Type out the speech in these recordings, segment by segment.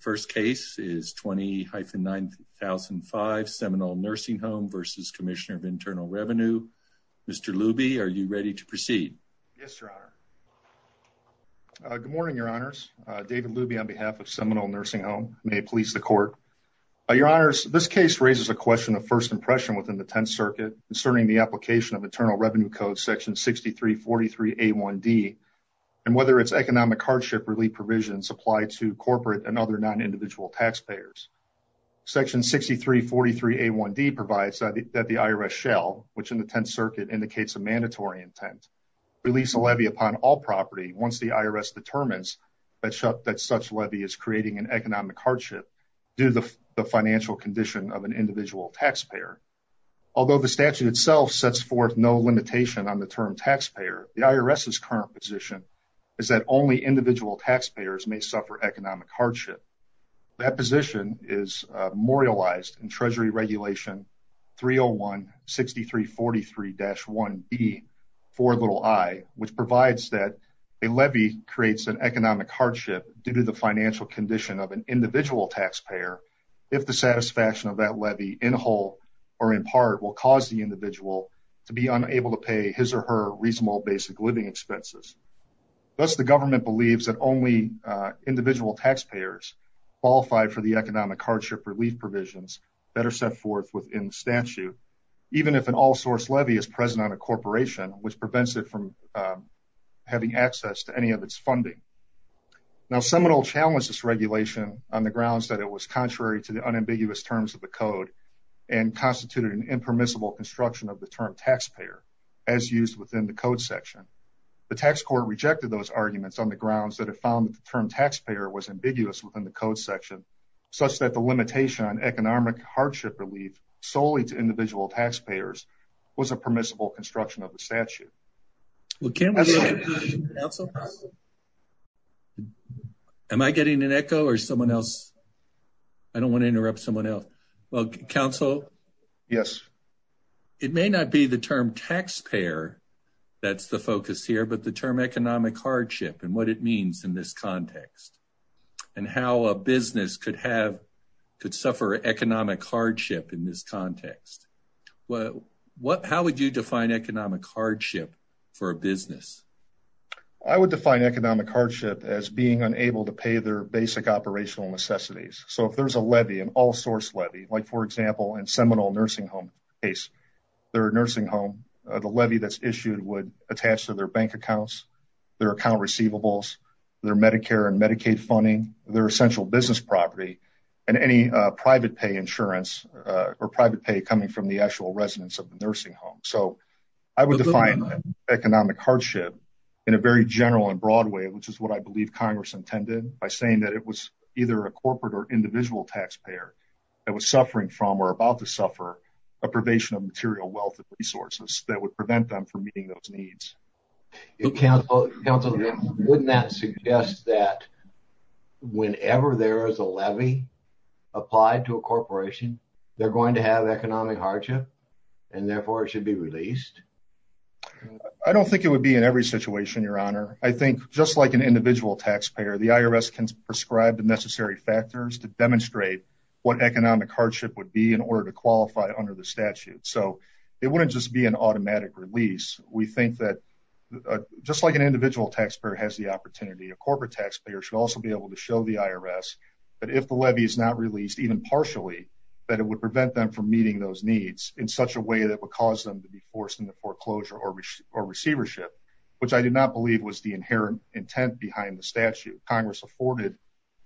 First case is 20-9005 Seminole Nursing Home v. Commissioner of Internal Revenue. Mr. Luby, are you ready to proceed? Yes, Your Honor. Good morning, Your Honors. David Luby on behalf of Seminole Nursing Home. May it please the Court. Your Honors, this case raises a question of first impression within the Tenth Circuit concerning the application of Internal Revenue Code Section 6343A1D and whether its economic hardship relief provisions apply to corporate and other non-individual taxpayers. Section 6343A1D provides that the IRS shall, which in the Tenth Circuit indicates a mandatory intent, release a levy upon all property once the IRS determines that such levy is creating an economic hardship due to the financial condition of an individual taxpayer. Although the statute itself sets forth no limitation on the term taxpayer, the IRS's current position is that only individual taxpayers may suffer economic hardship. That position is memorialized in Treasury Regulation 301-6343-1B-4i, which provides that a levy creates an economic hardship due to the financial condition of an individual taxpayer if the satisfaction of that levy, in whole or in part, will cause the individual to be unable to basic living expenses. Thus, the government believes that only individual taxpayers qualified for the economic hardship relief provisions better set forth within the statute, even if an all-source levy is present on a corporation, which prevents it from having access to any of its funding. Now, Seminole challenged this regulation on the grounds that it was contrary to the unambiguous terms of the Code and constituted an impermissible construction of the term taxpayer, as used within the Code section. The tax court rejected those arguments on the grounds that it found that the term taxpayer was ambiguous within the Code section, such that the limitation on economic hardship relief solely to individual taxpayers was a permissible construction of the statute. Am I getting an echo or someone else? I don't want to interrupt someone else. Counsel? Yes. It may not be the term taxpayer that's the focus here, but the term economic hardship and what it means in this context and how a business could suffer economic hardship in this context. How would you define economic hardship for a business? I would define economic hardship as being unable to pay their basic operational necessities. So if there's a levy, an all-source levy, like for example, in Seminole nursing home case, their nursing home, the levy that's issued would attach to their bank accounts, their account receivables, their Medicare and Medicaid funding, their essential business property, and any private pay insurance or private pay coming from the actual residence of the nursing home. So I would define economic hardship in a very general and broad way, which is what I believe Congress intended by saying that it was either a corporate or individual taxpayer that was suffering from or about to suffer a probation of material wealth and resources that would prevent them from meeting those needs. Counsel, wouldn't that suggest that whenever there is a levy applied to a corporation, they're going to have economic hardship and therefore it should be released? I don't think it would be in every situation, Your Honor. I think just like an individual taxpayer, the IRS can prescribe the necessary factors to demonstrate what economic hardship would be in order to qualify under the statute. So it wouldn't just be an automatic release. We think that just like an individual taxpayer has the opportunity, a corporate taxpayer should also be able to show the IRS that if the levy is not released, even partially, that it would prevent them from meeting those needs in such a way that would cause them to be forced into foreclosure or receivership, which I did not believe was the inherent intent behind the statute. Congress afforded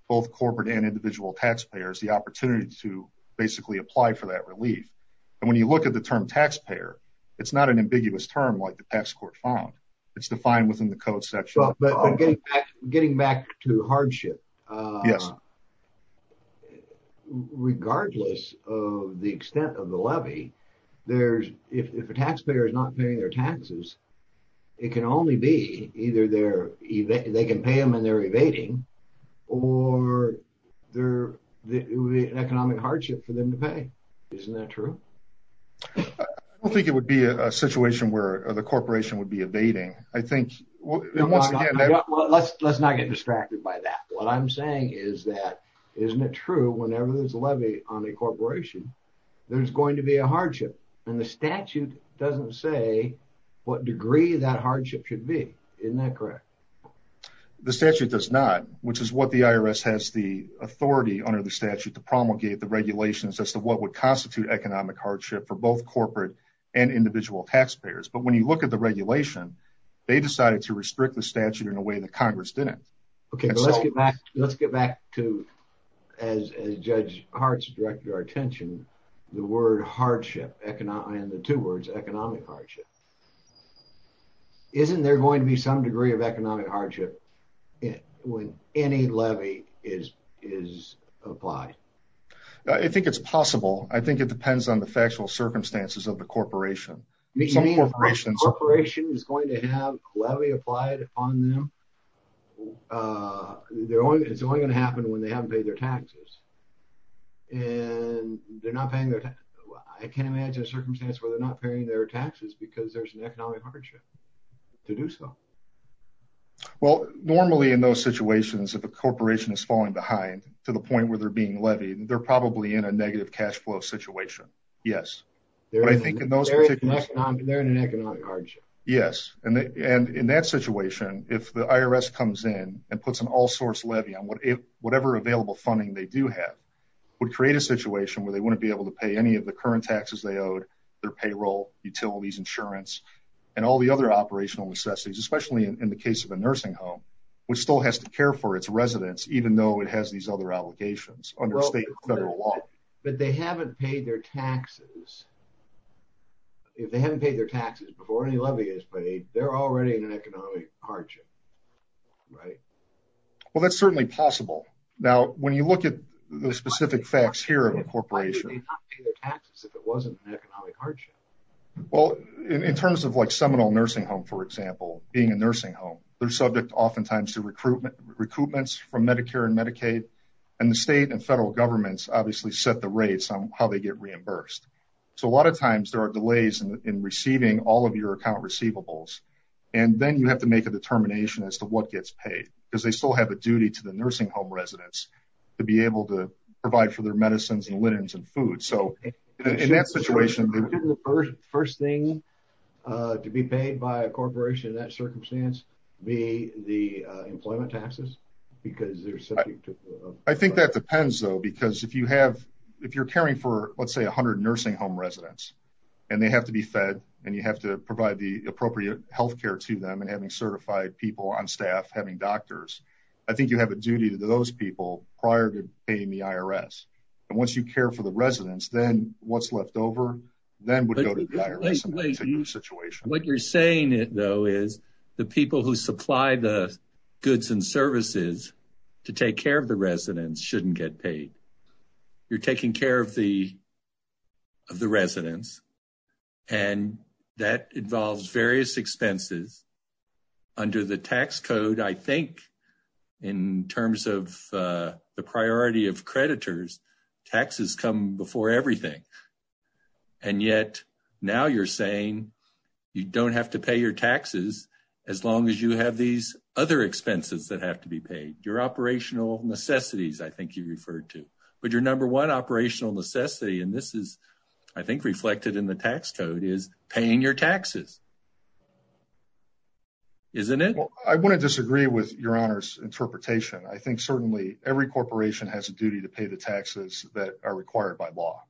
both corporate and individual taxpayers the opportunity to basically apply for that relief. And when you look at the term taxpayer, it's not an ambiguous term like the tax court found. It's defined within the code section. But getting back to hardship, regardless of the extent of the levy, if a taxpayer is not paying their taxes, it can only be either they can pay them and they're evading or it would be an economic hardship for them to pay. Isn't that true? I don't think it would be a situation where the corporation would be evading. I think, once again... Let's not get distracted by that. What I'm saying is that, isn't it true whenever there's a levy on a corporation, there's going to be a hardship and the statute doesn't say what degree that hardship should be. Isn't that correct? The statute does not, which is what the IRS has the authority under the statute to promulgate the regulations as to what would constitute economic hardship for both corporate and individual taxpayers. But when you look at the regulation, they decided to restrict the statute in a way that Congress didn't. Okay, let's get back to, as Judge Hart's directed our attention, the word hardship and the two words economic hardship. Isn't there going to be some degree of economic hardship when any levy is applied? I think it's possible. I think it depends on the factual circumstances of the corporation. You mean a corporation is going to have a levy applied on them? It's only going to happen when they haven't paid their taxes? And they're not paying their taxes. I can't imagine a circumstance where they're not paying their taxes because there's an economic hardship to do so. Well, normally in those situations, if a corporation is falling behind to the point where they're being levied, they're probably in a negative cash flow situation. Yes. They're in an economic hardship. Yes. And in that situation, if the IRS comes in and puts an all-source levy on whatever available funding they do have, would create a situation where they wouldn't be able to pay any of the current taxes they owed, their payroll, utilities, insurance, and all the other operational necessities, especially in the case of a nursing home, which still has to care for its residents, even though it has these other obligations under state and federal law. But they haven't paid their taxes. If they haven't paid their taxes before any levy is paid, they're already in an economic hardship, right? Well, that's certainly possible. Now, when you look at the specific facts here of a corporation, well, in terms of like Seminole Nursing Home, for example, being a nursing home, they're subject oftentimes to recruitment, recoupments from Medicare and Medicaid. And the state and federal governments obviously set the rates on how they get reimbursed. So a lot of times there are delays in receiving all of your account receivables. And then you have to make a determination as to what gets paid, because they still have a duty to the nursing home residents to be able to provide for their medicines and linens and food. So in that situation, the first thing to be paid by a corporation in that circumstance be the employment taxes, because they're subject to... I think that depends though, because if you have, if you're caring for, let's say 100 nursing home residents, and they have to be fed, and you have to provide the appropriate health care to them, and having certified people on staff, having doctors, I think you have a duty to those people prior to paying the IRS. And once you care for the residents, then what's left over, then would go to the IRS in that particular situation. What you're saying though, is the people who supply the goods and services to take care of residents shouldn't get paid. You're taking care of the residents, and that involves various expenses under the tax code. I think in terms of the priority of creditors, taxes come before everything. And yet now you're saying you don't have to pay your taxes as long as you have these other expenses that have to be paid. Your operational necessities, I think you referred to. But your number one operational necessity, and this is, I think, reflected in the tax code, is paying your taxes. Isn't it? Well, I wouldn't disagree with your honor's interpretation. I think certainly every corporation has a duty to pay the taxes that are required by law.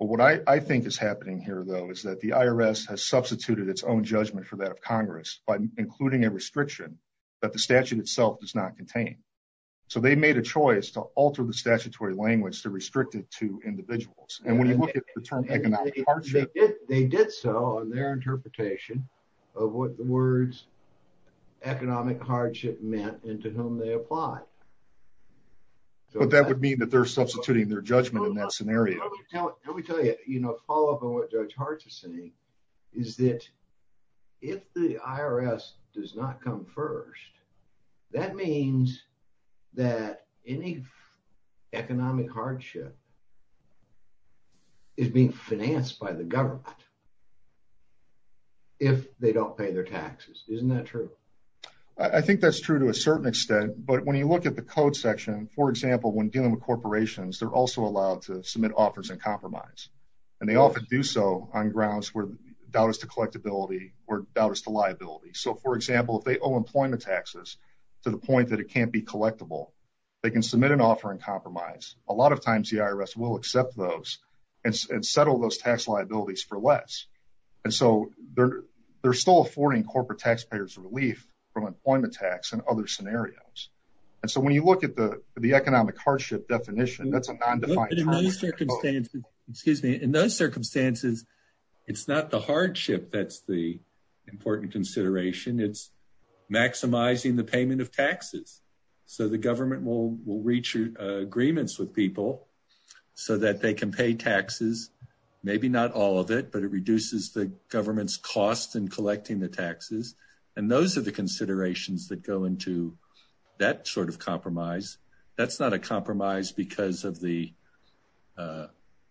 But what I think is happening here though, is that the IRS has substituted its own judgment for that of Congress by including a restriction that the statute itself does not contain. So they made a choice to alter the statutory language to restrict it to individuals. And when you look at the term economic hardship... They did so on their interpretation of what the words economic hardship meant and to whom they apply. But that would mean that they're substituting their judgment in that scenario. Let me tell you, follow up on what Judge Hart is saying, is that if the IRS does not come first, that means that any economic hardship is being financed by the government if they don't pay their taxes. Isn't that true? I think that's true to a certain extent. But when you look at the code section, for example, when dealing with corporations, they're also allowed to submit offers and compromise. And they often do so on grounds where dollars to collectability or dollars to liability. So for example, if they owe employment taxes to the point that it can't be collectible, they can submit an offer and compromise. A lot of times the IRS will accept those and settle those tax liabilities for less. And so they're still affording corporate taxpayers relief from employment tax and other scenarios. And so when you look at the economic hardship definition, that's a non-defined term. But in those circumstances, it's not the hardship that's the important consideration. It's maximizing the payment of taxes. So the government will reach agreements with people so that they can pay taxes. Maybe not all of it, but it reduces the government's costs in collecting the taxes. And those are the considerations that go into that sort of compromise. That's not a compromise because of the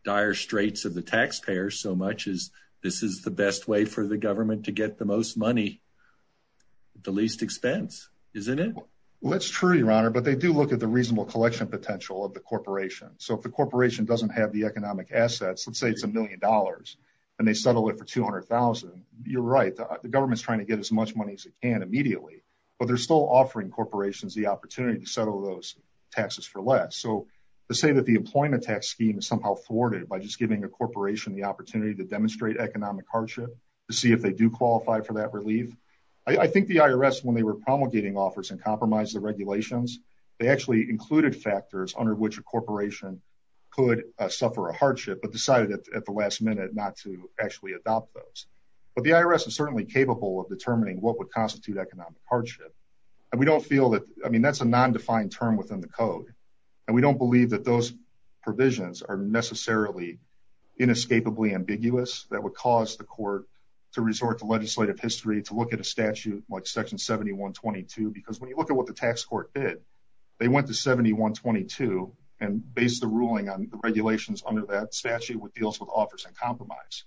dire straits of the taxpayer so much as this is the best way for the government to get the most money at the least expense, isn't it? Well, it's true, your honor, but they do look at the reasonable collection potential of the corporation. So if the corporation doesn't have the economic assets, let's say it's a million dollars and they settle it for 200,000, you're right. The government's trying to get as much money as it can immediately, but they're still offering corporations the opportunity to settle those taxes for less. So to say that the employment tax scheme is somehow thwarted by just giving a corporation the opportunity to demonstrate economic hardship, to see if they do qualify for that relief. I think the IRS, when they were promulgating offers and compromised the regulations, they actually included factors under which a corporation could suffer a hardship, but decided at the last minute not to actually adopt those. But the IRS is certainly capable of determining what would constitute economic hardship. And we don't feel that, I mean, that's a non-defined term within the code. And we don't believe that those provisions are necessarily inescapably ambiguous that would cause the court to resort to legislative history, to look at a statute like section 7122, because when you look at what the tax court did, they went to 7122 and based the ruling on the regulations under that statute, what deals with offers and compromise.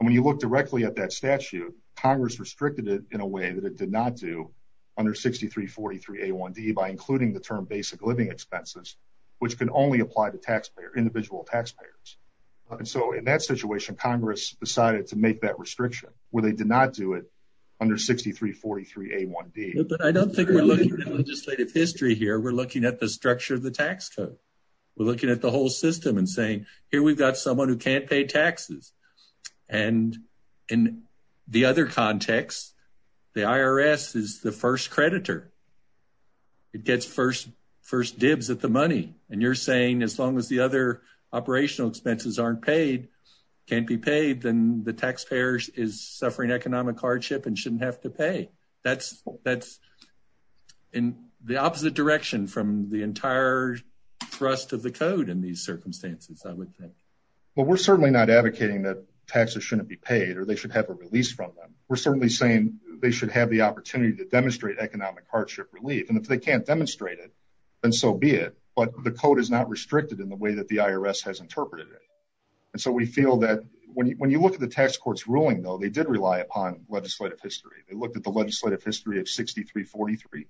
And when you look directly at that statute, Congress restricted it in a way that it did not do under 6343A1D by including the term basic living expenses, which can only apply to individual taxpayers. And so in that situation, Congress decided to make that restriction, where they did not do it under 6343A1D. But I don't think we're looking at legislative history here. We're looking at the structure of the tax code. We're looking at the whole system and saying, here we've got someone who can't pay taxes. And in the other context, the IRS is the first creditor. It gets first dibs at the money. And you're saying as long as the other operational expenses aren't paid, can't be paid, then the taxpayer is suffering economic hardship and shouldn't have to pay. That's in the opposite direction from the entire thrust of the code in these circumstances, I would think. But we're certainly not advocating that taxes shouldn't be paid or they should have a release from them. We're certainly saying they should have the opportunity to demonstrate economic hardship relief. And if they can't demonstrate it, then so be it. But the code is not restricted in the way that the IRS has interpreted it. And so we feel that when you look at the tax court's ruling, though, they did rely upon legislative history. They looked at the legislative history of 6343.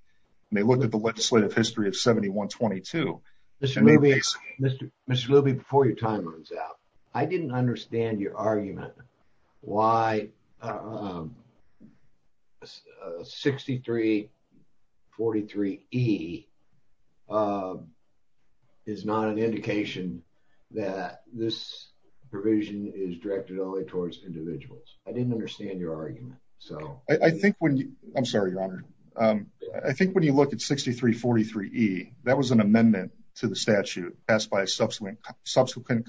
And they looked at the legislative history of 7122. Mr. Luby, before your time runs out, I didn't understand your argument why 6343E is not an indication that this provision is directed only towards individuals. I didn't understand your argument. So I think when you I'm sorry, your honor. I think when you look at 6343E, that was an amendment to the statute passed by subsequent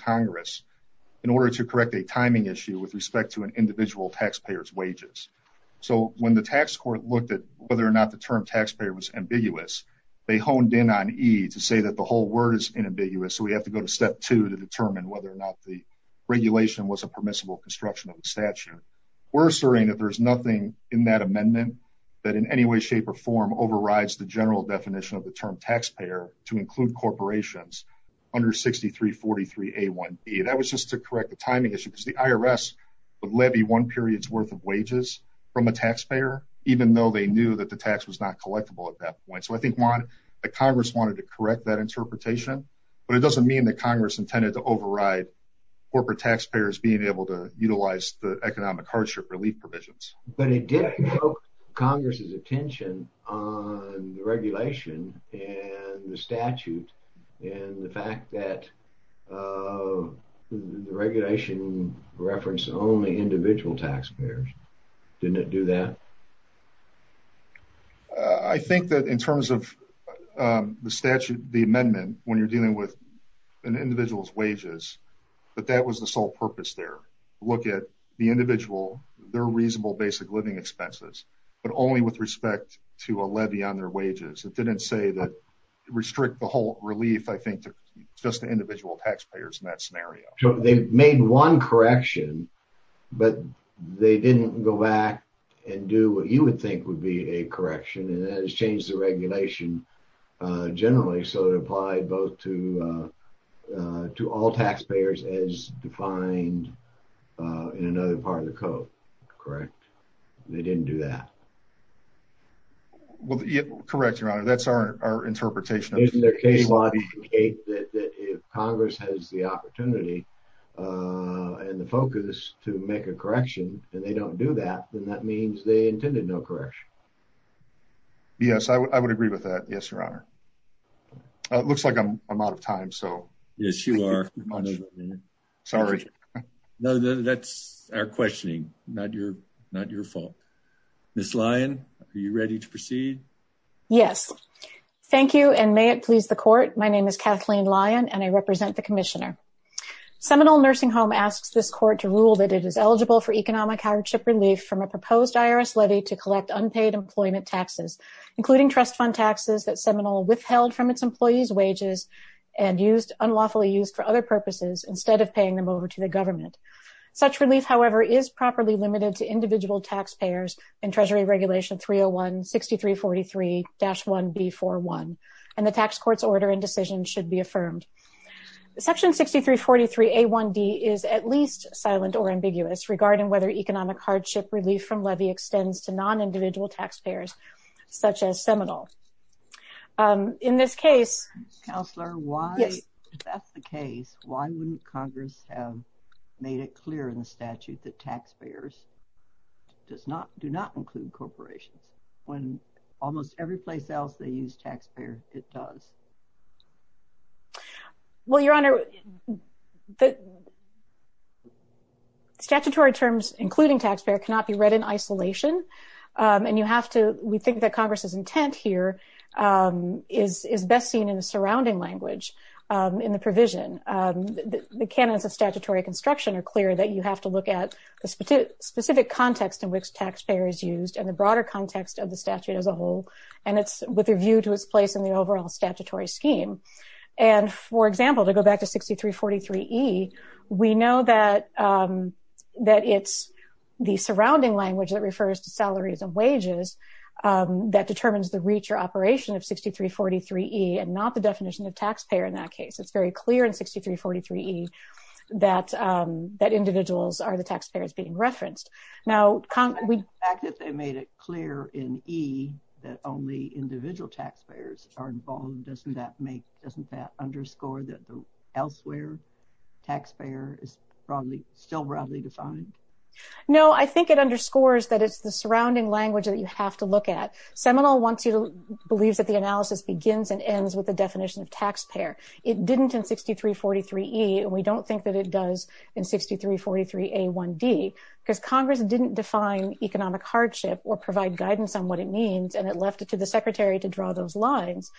Congress in order to correct a timing issue with respect to an individual taxpayer's wages. So when the tax court looked at whether or not the term taxpayer was ambiguous, they honed in on E to say that the whole word is inambiguous. So we have to go to step two to determine whether or not the regulation was a permissible construction of the statute. We're asserting that there's nothing in that amendment that in any way, shape or form overrides the general definition of the term taxpayer to include corporations under 6343A1E. That was just to correct the timing issue because the IRS would levy one period's worth of wages from a taxpayer, even though they knew that the tax was not collectible at that point. So I think one, the Congress wanted to correct that interpretation, but it doesn't mean that Congress intended to override corporate taxpayers being able to utilize the economic hardship relief provisions. But it did invoke Congress's attention on the regulation and the statute and the fact that the regulation referenced only individual taxpayers. Didn't it do that? I think that in terms of the statute, the amendment, when you're dealing with an individual's wages, but that was the sole purpose there. Look at the individual, their reasonable basic living expenses, but only with respect to a levy on their wages. It didn't say that restrict the whole relief, I think to just the individual taxpayers in that scenario. So they made one correction, but they didn't go back and do what you would think would be a correction. And that has changed the regulation generally. So it applied both to all taxpayers as defined in another part of the code. Correct. They didn't do that. Well, correct, Your Honor. That's our interpretation. If Congress has the opportunity and the focus to make a correction, and they don't do that, then that means they intended no correction. Yes, I would agree with that. Yes, Your Honor. It looks like I'm out of time. Yes, you are. Sorry. That's our questioning, not your fault. Ms. Lyon, are you ready to proceed? Yes, thank you. And may it please the court. My name is Kathleen Lyon, and I represent the commissioner. Seminole Nursing Home asks this court to rule that it is eligible for economic relief from a proposed IRS levy to collect unpaid employment taxes, including trust fund taxes that Seminole withheld from its employees' wages and unlawfully used for other purposes instead of paying them over to the government. Such relief, however, is properly limited to individual taxpayers in Treasury Regulation 301-6343-1B41, and the tax court's order and decision should be affirmed. Section 6343-A1-D is at least silent or ambiguous regarding whether economic hardship relief from levy extends to non-individual taxpayers, such as Seminole. In this case... Counselor, why... Yes. If that's the case, why wouldn't Congress have made it clear in the statute that taxpayers do not include corporations when almost every place else they use taxpayer, it does? Well, Your Honor, the statutory terms, including taxpayer, cannot be read in isolation, and you have to, we think that Congress's intent here is best seen in the surrounding language in the provision. The canons of statutory construction are clear that you have to look at the specific context in which taxpayer is used and the broader context of the statute as a whole, and it's with a view to its place in the overall statutory scheme. And for example, to go back to 6343-E, we know that it's the surrounding language that refers to salaries and wages that determines the reach or operation of 6343-E and not the definition of taxpayer in that case. It's very clear in 6343-E that individuals are the taxpayers being referenced. Now, we... only individual taxpayers are involved. Doesn't that make, doesn't that underscore that the elsewhere taxpayer is broadly, still broadly defined? No, I think it underscores that it's the surrounding language that you have to look at. Seminole wants you to, believes that the analysis begins and ends with the definition of taxpayer. It didn't in 6343-E, and we don't think that it does in 6343-A1-D, because Congress didn't define economic hardship or provide guidance on what it means, and it left it to the Secretary to draw those lines.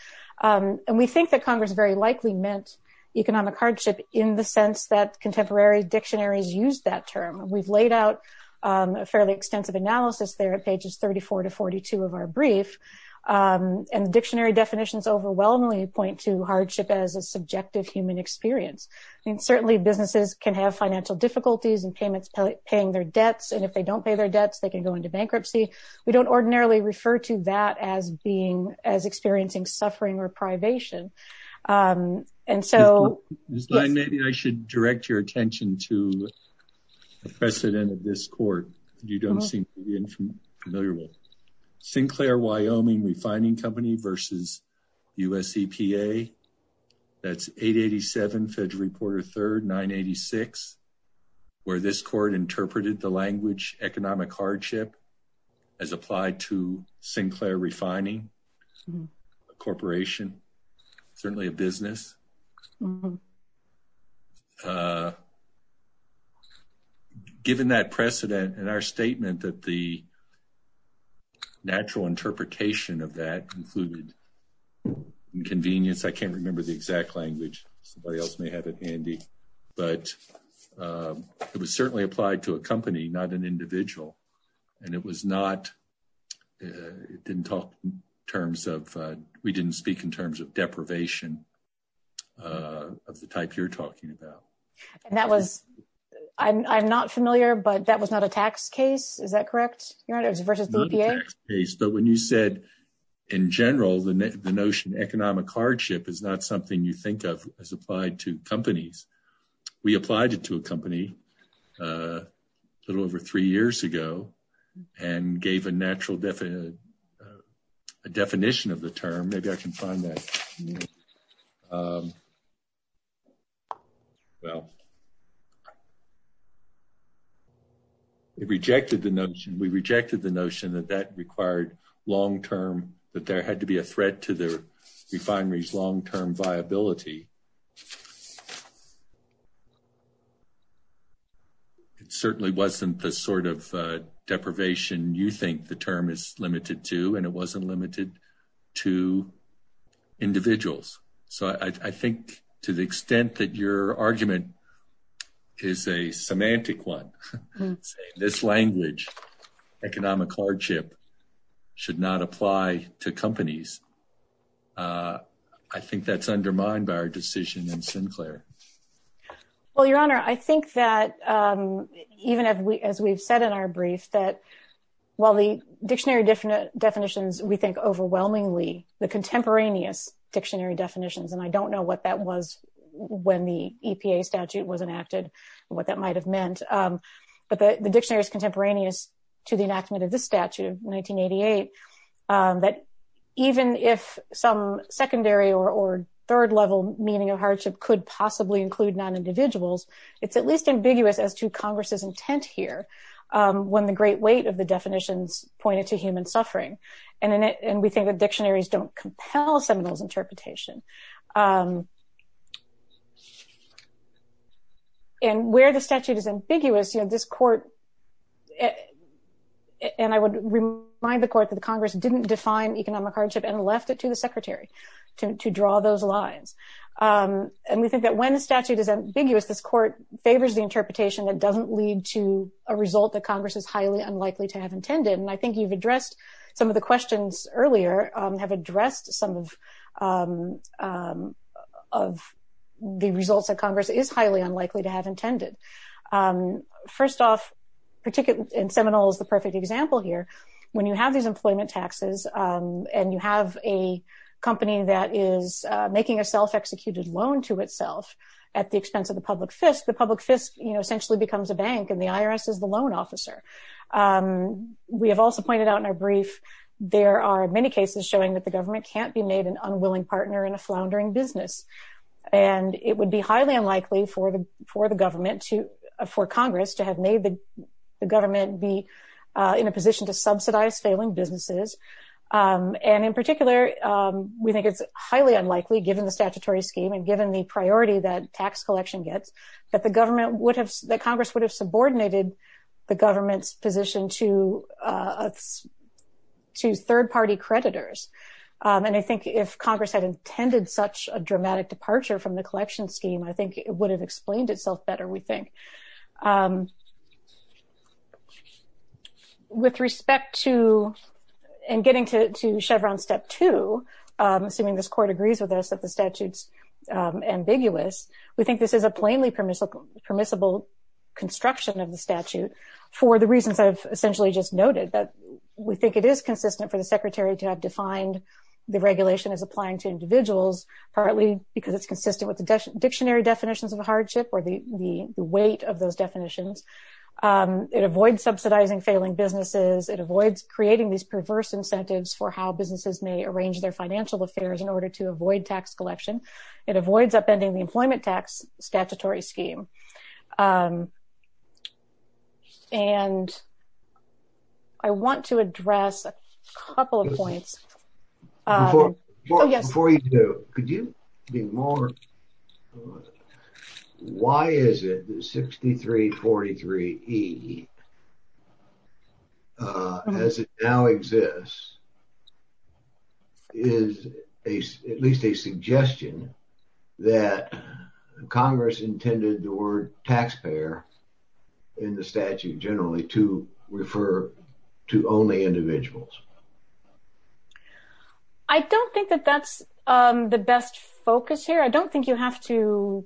And we think that Congress very likely meant economic hardship in the sense that contemporary dictionaries used that term. We've laid out a fairly extensive analysis there at pages 34 to 42 of our brief, and the dictionary definitions overwhelmingly point to hardship as a subjective human experience. I mean, certainly businesses can have financial difficulties and paying their debts, and if they don't pay their debts, they can go into bankruptcy. We don't ordinarily refer to that as being, as experiencing suffering or privation. And so... Maybe I should direct your attention to the precedent of this court, if you don't seem to be familiar with it. Sinclair Wyoming Refining Company versus USEPA. That's 887 Federal Reporter 3rd, 986, where this court interpreted the language economic hardship as applied to Sinclair Refining Corporation, certainly a business. Given that precedent and our statement that the natural interpretation of that included inconvenience, I can't remember the exact language. Somebody else may have it handy, but it was certainly applied to a company, not an individual. And it was not... It didn't talk in terms of... We didn't speak in terms of deprivation of the type you're talking about. And that was... I'm not familiar, but that was not a tax case, is that correct? You're right, it was versus EPA? But when you said, in general, the notion economic hardship is not something you think of as applied to companies, we applied it to a company a little over three years ago and gave a natural definition of the term. Maybe I can find that. No. Well, it rejected the notion... We rejected the notion that that required long-term... That there had to be a threat to the refinery's long-term viability. It certainly wasn't the sort of deprivation you think the term is limited to, and it wasn't limited to individuals. So I think to the extent that your argument is a semantic one, saying this language, economic hardship, should not apply to companies, I think that's undermined by our decision in Sinclair. Well, Your Honor, I think that even as we've said in our brief, that while the dictionary definitions, we think overwhelmingly, the contemporaneous dictionary definitions, and I don't know what that was when the EPA statute was enacted, what that might have meant, but the dictionary is contemporaneous to the enactment of this statute of 1988, that even if some secondary or third-level meaning of hardship could possibly include non-individuals, it's at least ambiguous as to Congress's intent here when the great weight of definitions pointed to human suffering. And we think that dictionaries don't compel Seminole's interpretation. And where the statute is ambiguous, you know, this court, and I would remind the court that the Congress didn't define economic hardship and left it to the Secretary to draw those lines. And we think that when the statute is ambiguous, this court favors the interpretation that doesn't lead to a result that Congress is highly unlikely to have intended. And I think you've addressed some of the questions earlier, have addressed some of the results that Congress is highly unlikely to have intended. First off, and Seminole is the perfect example here, when you have these employment taxes and you have a company that is making a self-executed loan to itself at the expense of the public fist, the public fist, you know, essentially becomes a bank and the IRS is the loan officer. We have also pointed out in our brief, there are many cases showing that the government can't be made an unwilling partner in a floundering business. And it would be highly unlikely for the, for the government to, for Congress to have made the government be in a position to subsidize failing businesses. And in particular, we think it's highly unlikely given the statutory scheme and given the priority that tax collection gets, that the government would have, that Congress would have subordinated the government's position to third-party creditors. And I think if Congress had intended such a dramatic departure from the collection scheme, I think it would have explained itself better, we think. With respect to, and getting to Chevron step two, assuming this court agrees with us that the statute's ambiguous, we think this is a plainly permissible, permissible construction of the statute for the reasons I've essentially just noted, that we think it is consistent for the secretary to have defined the regulation as applying to individuals, partly because it's consistent with the dictionary definitions of a hardship or the, the weight of those definitions. It avoids subsidizing failing businesses. It avoids creating these perverse incentives for how businesses may arrange their financial affairs in order to avoid tax collection. It avoids upending the employment tax statutory scheme. And I want to address a couple of points. Before you do, could you be more, why is it that 6343E, as it now exists, is at least a suggestion that Congress intended the word taxpayer in the statute generally to refer to only individuals? I don't think that that's the best focus here. I don't think you have to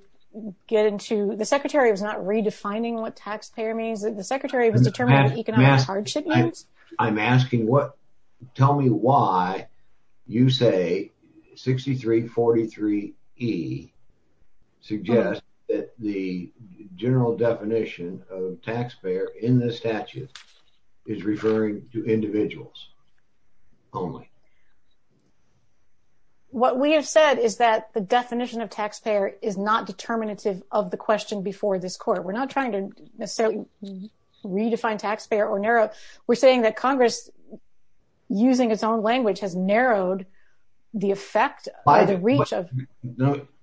get into, the secretary was not redefining what taxpayer means, the secretary was determining what economic hardship means. I'm asking what, tell me why you say 6343E suggests that the general definition of taxpayer in this statute is referring to individuals only. What we have said is that the definition of taxpayer is not determinative of the question before this court. We're not trying to necessarily redefine taxpayer or narrow. We're saying that Congress, using its own language, has narrowed the effect or the reach of...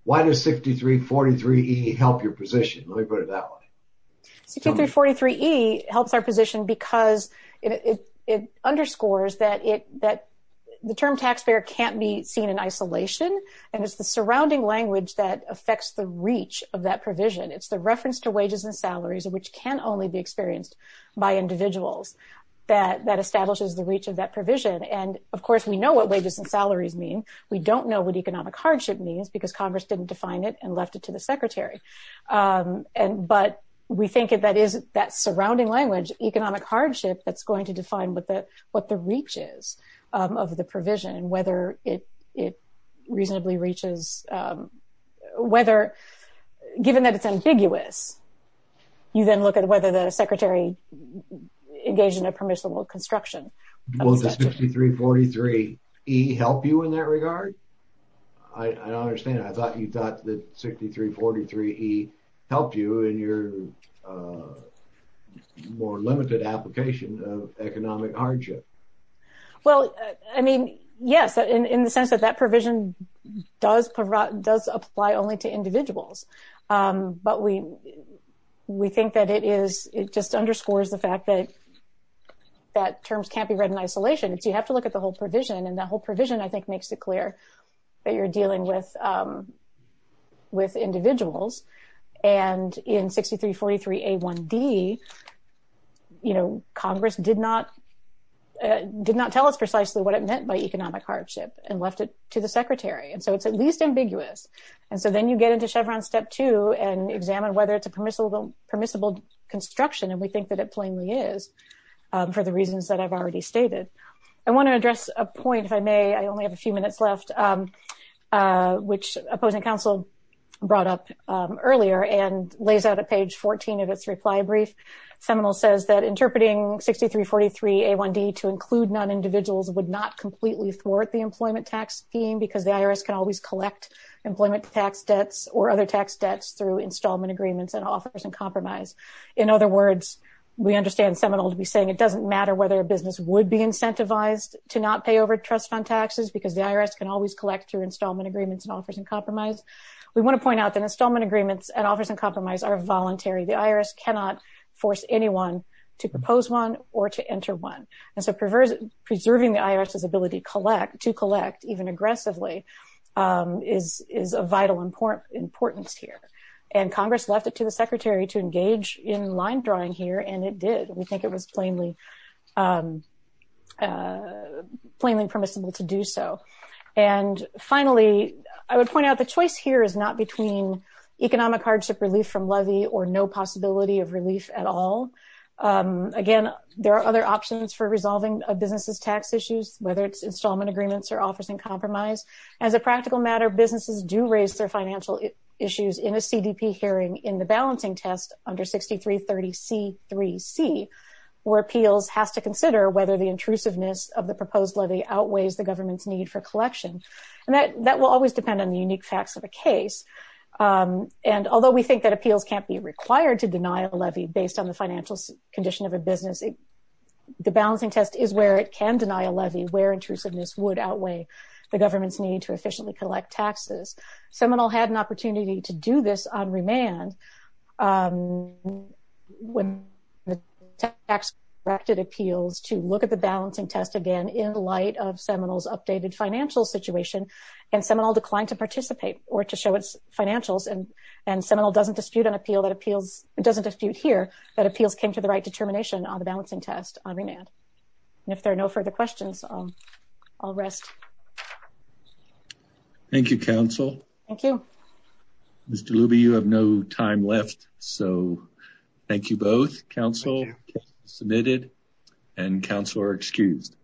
Why does 6343E help your position? Let me put it that way. 6343E helps our position because it underscores that it, that the term taxpayer can't be seen in isolation and it's the surrounding language that affects the reach of that provision. It's reference to wages and salaries which can only be experienced by individuals that establishes the reach of that provision. And of course we know what wages and salaries mean. We don't know what economic hardship means because Congress didn't define it and left it to the secretary. But we think that is that surrounding language, economic hardship, that's going to define what the reach is of the provision, whether it reasonably reaches, whether given that it's ambiguous, you then look at whether the secretary engaged in a permissible construction. Will 6343E help you in that regard? I don't understand. I thought you thought that 6343E helped you in your more limited application of economic hardship. Well, I mean, yes, in the sense that that provision does apply only to individuals. But we think that it is, it just underscores the fact that that terms can't be read in isolation. You have to look at the whole provision and that whole provision I think makes it clear that you're dealing with individuals. And in 6343A1D, Congress did not tell us precisely what it meant by economic hardship and left it to the secretary. And so it's at least ambiguous. And so then you get into Chevron step two and examine whether it's a permissible construction. And we think that it plainly is for the reasons that I've already stated. I want to address a couple of questions which opposing counsel brought up earlier and lays out a page 14 of its reply brief. Seminole says that interpreting 6343A1D to include non-individuals would not completely thwart the employment tax scheme because the IRS can always collect employment tax debts or other tax debts through installment agreements and offers and compromise. In other words, we understand Seminole to be saying it doesn't matter whether a business would be collect through installment agreements and offers and compromise. We want to point out that installment agreements and offers and compromise are voluntary. The IRS cannot force anyone to propose one or to enter one. And so preserving the IRS's ability to collect even aggressively is a vital importance here. And Congress left it to the secretary to engage in line drawing here and it did. We think it was plainly permissible to do so. And finally, I would point out the choice here is not between economic hardship relief from levy or no possibility of relief at all. Again, there are other options for resolving a business's tax issues, whether it's installment agreements or offers and compromise. As a practical matter, businesses do raise their financial issues in a CDP hearing in the balancing test under 6330C3C where appeals has to consider whether the intrusiveness of the proposed levy outweighs the government's need for collection. And that will always depend on the unique facts of a case. And although we think that appeals can't be required to deny a levy based on the financial condition of a business, the balancing test is where it can deny a levy where intrusiveness would outweigh the government's need to efficiently collect taxes. Seminole had an opportunity to do this on remand when the tax directed appeals to look at the balancing test again in light of Seminole's updated financial situation. And Seminole declined to participate or to show its financials. And Seminole doesn't dispute an appeal that appeals, it doesn't dispute here that appeals came to the right determination on the balancing test on and if there are no further questions, I'll rest. Thank you, council. Thank you. Mr. Luby, you have no time left. So thank you both. Council submitted and council are excused.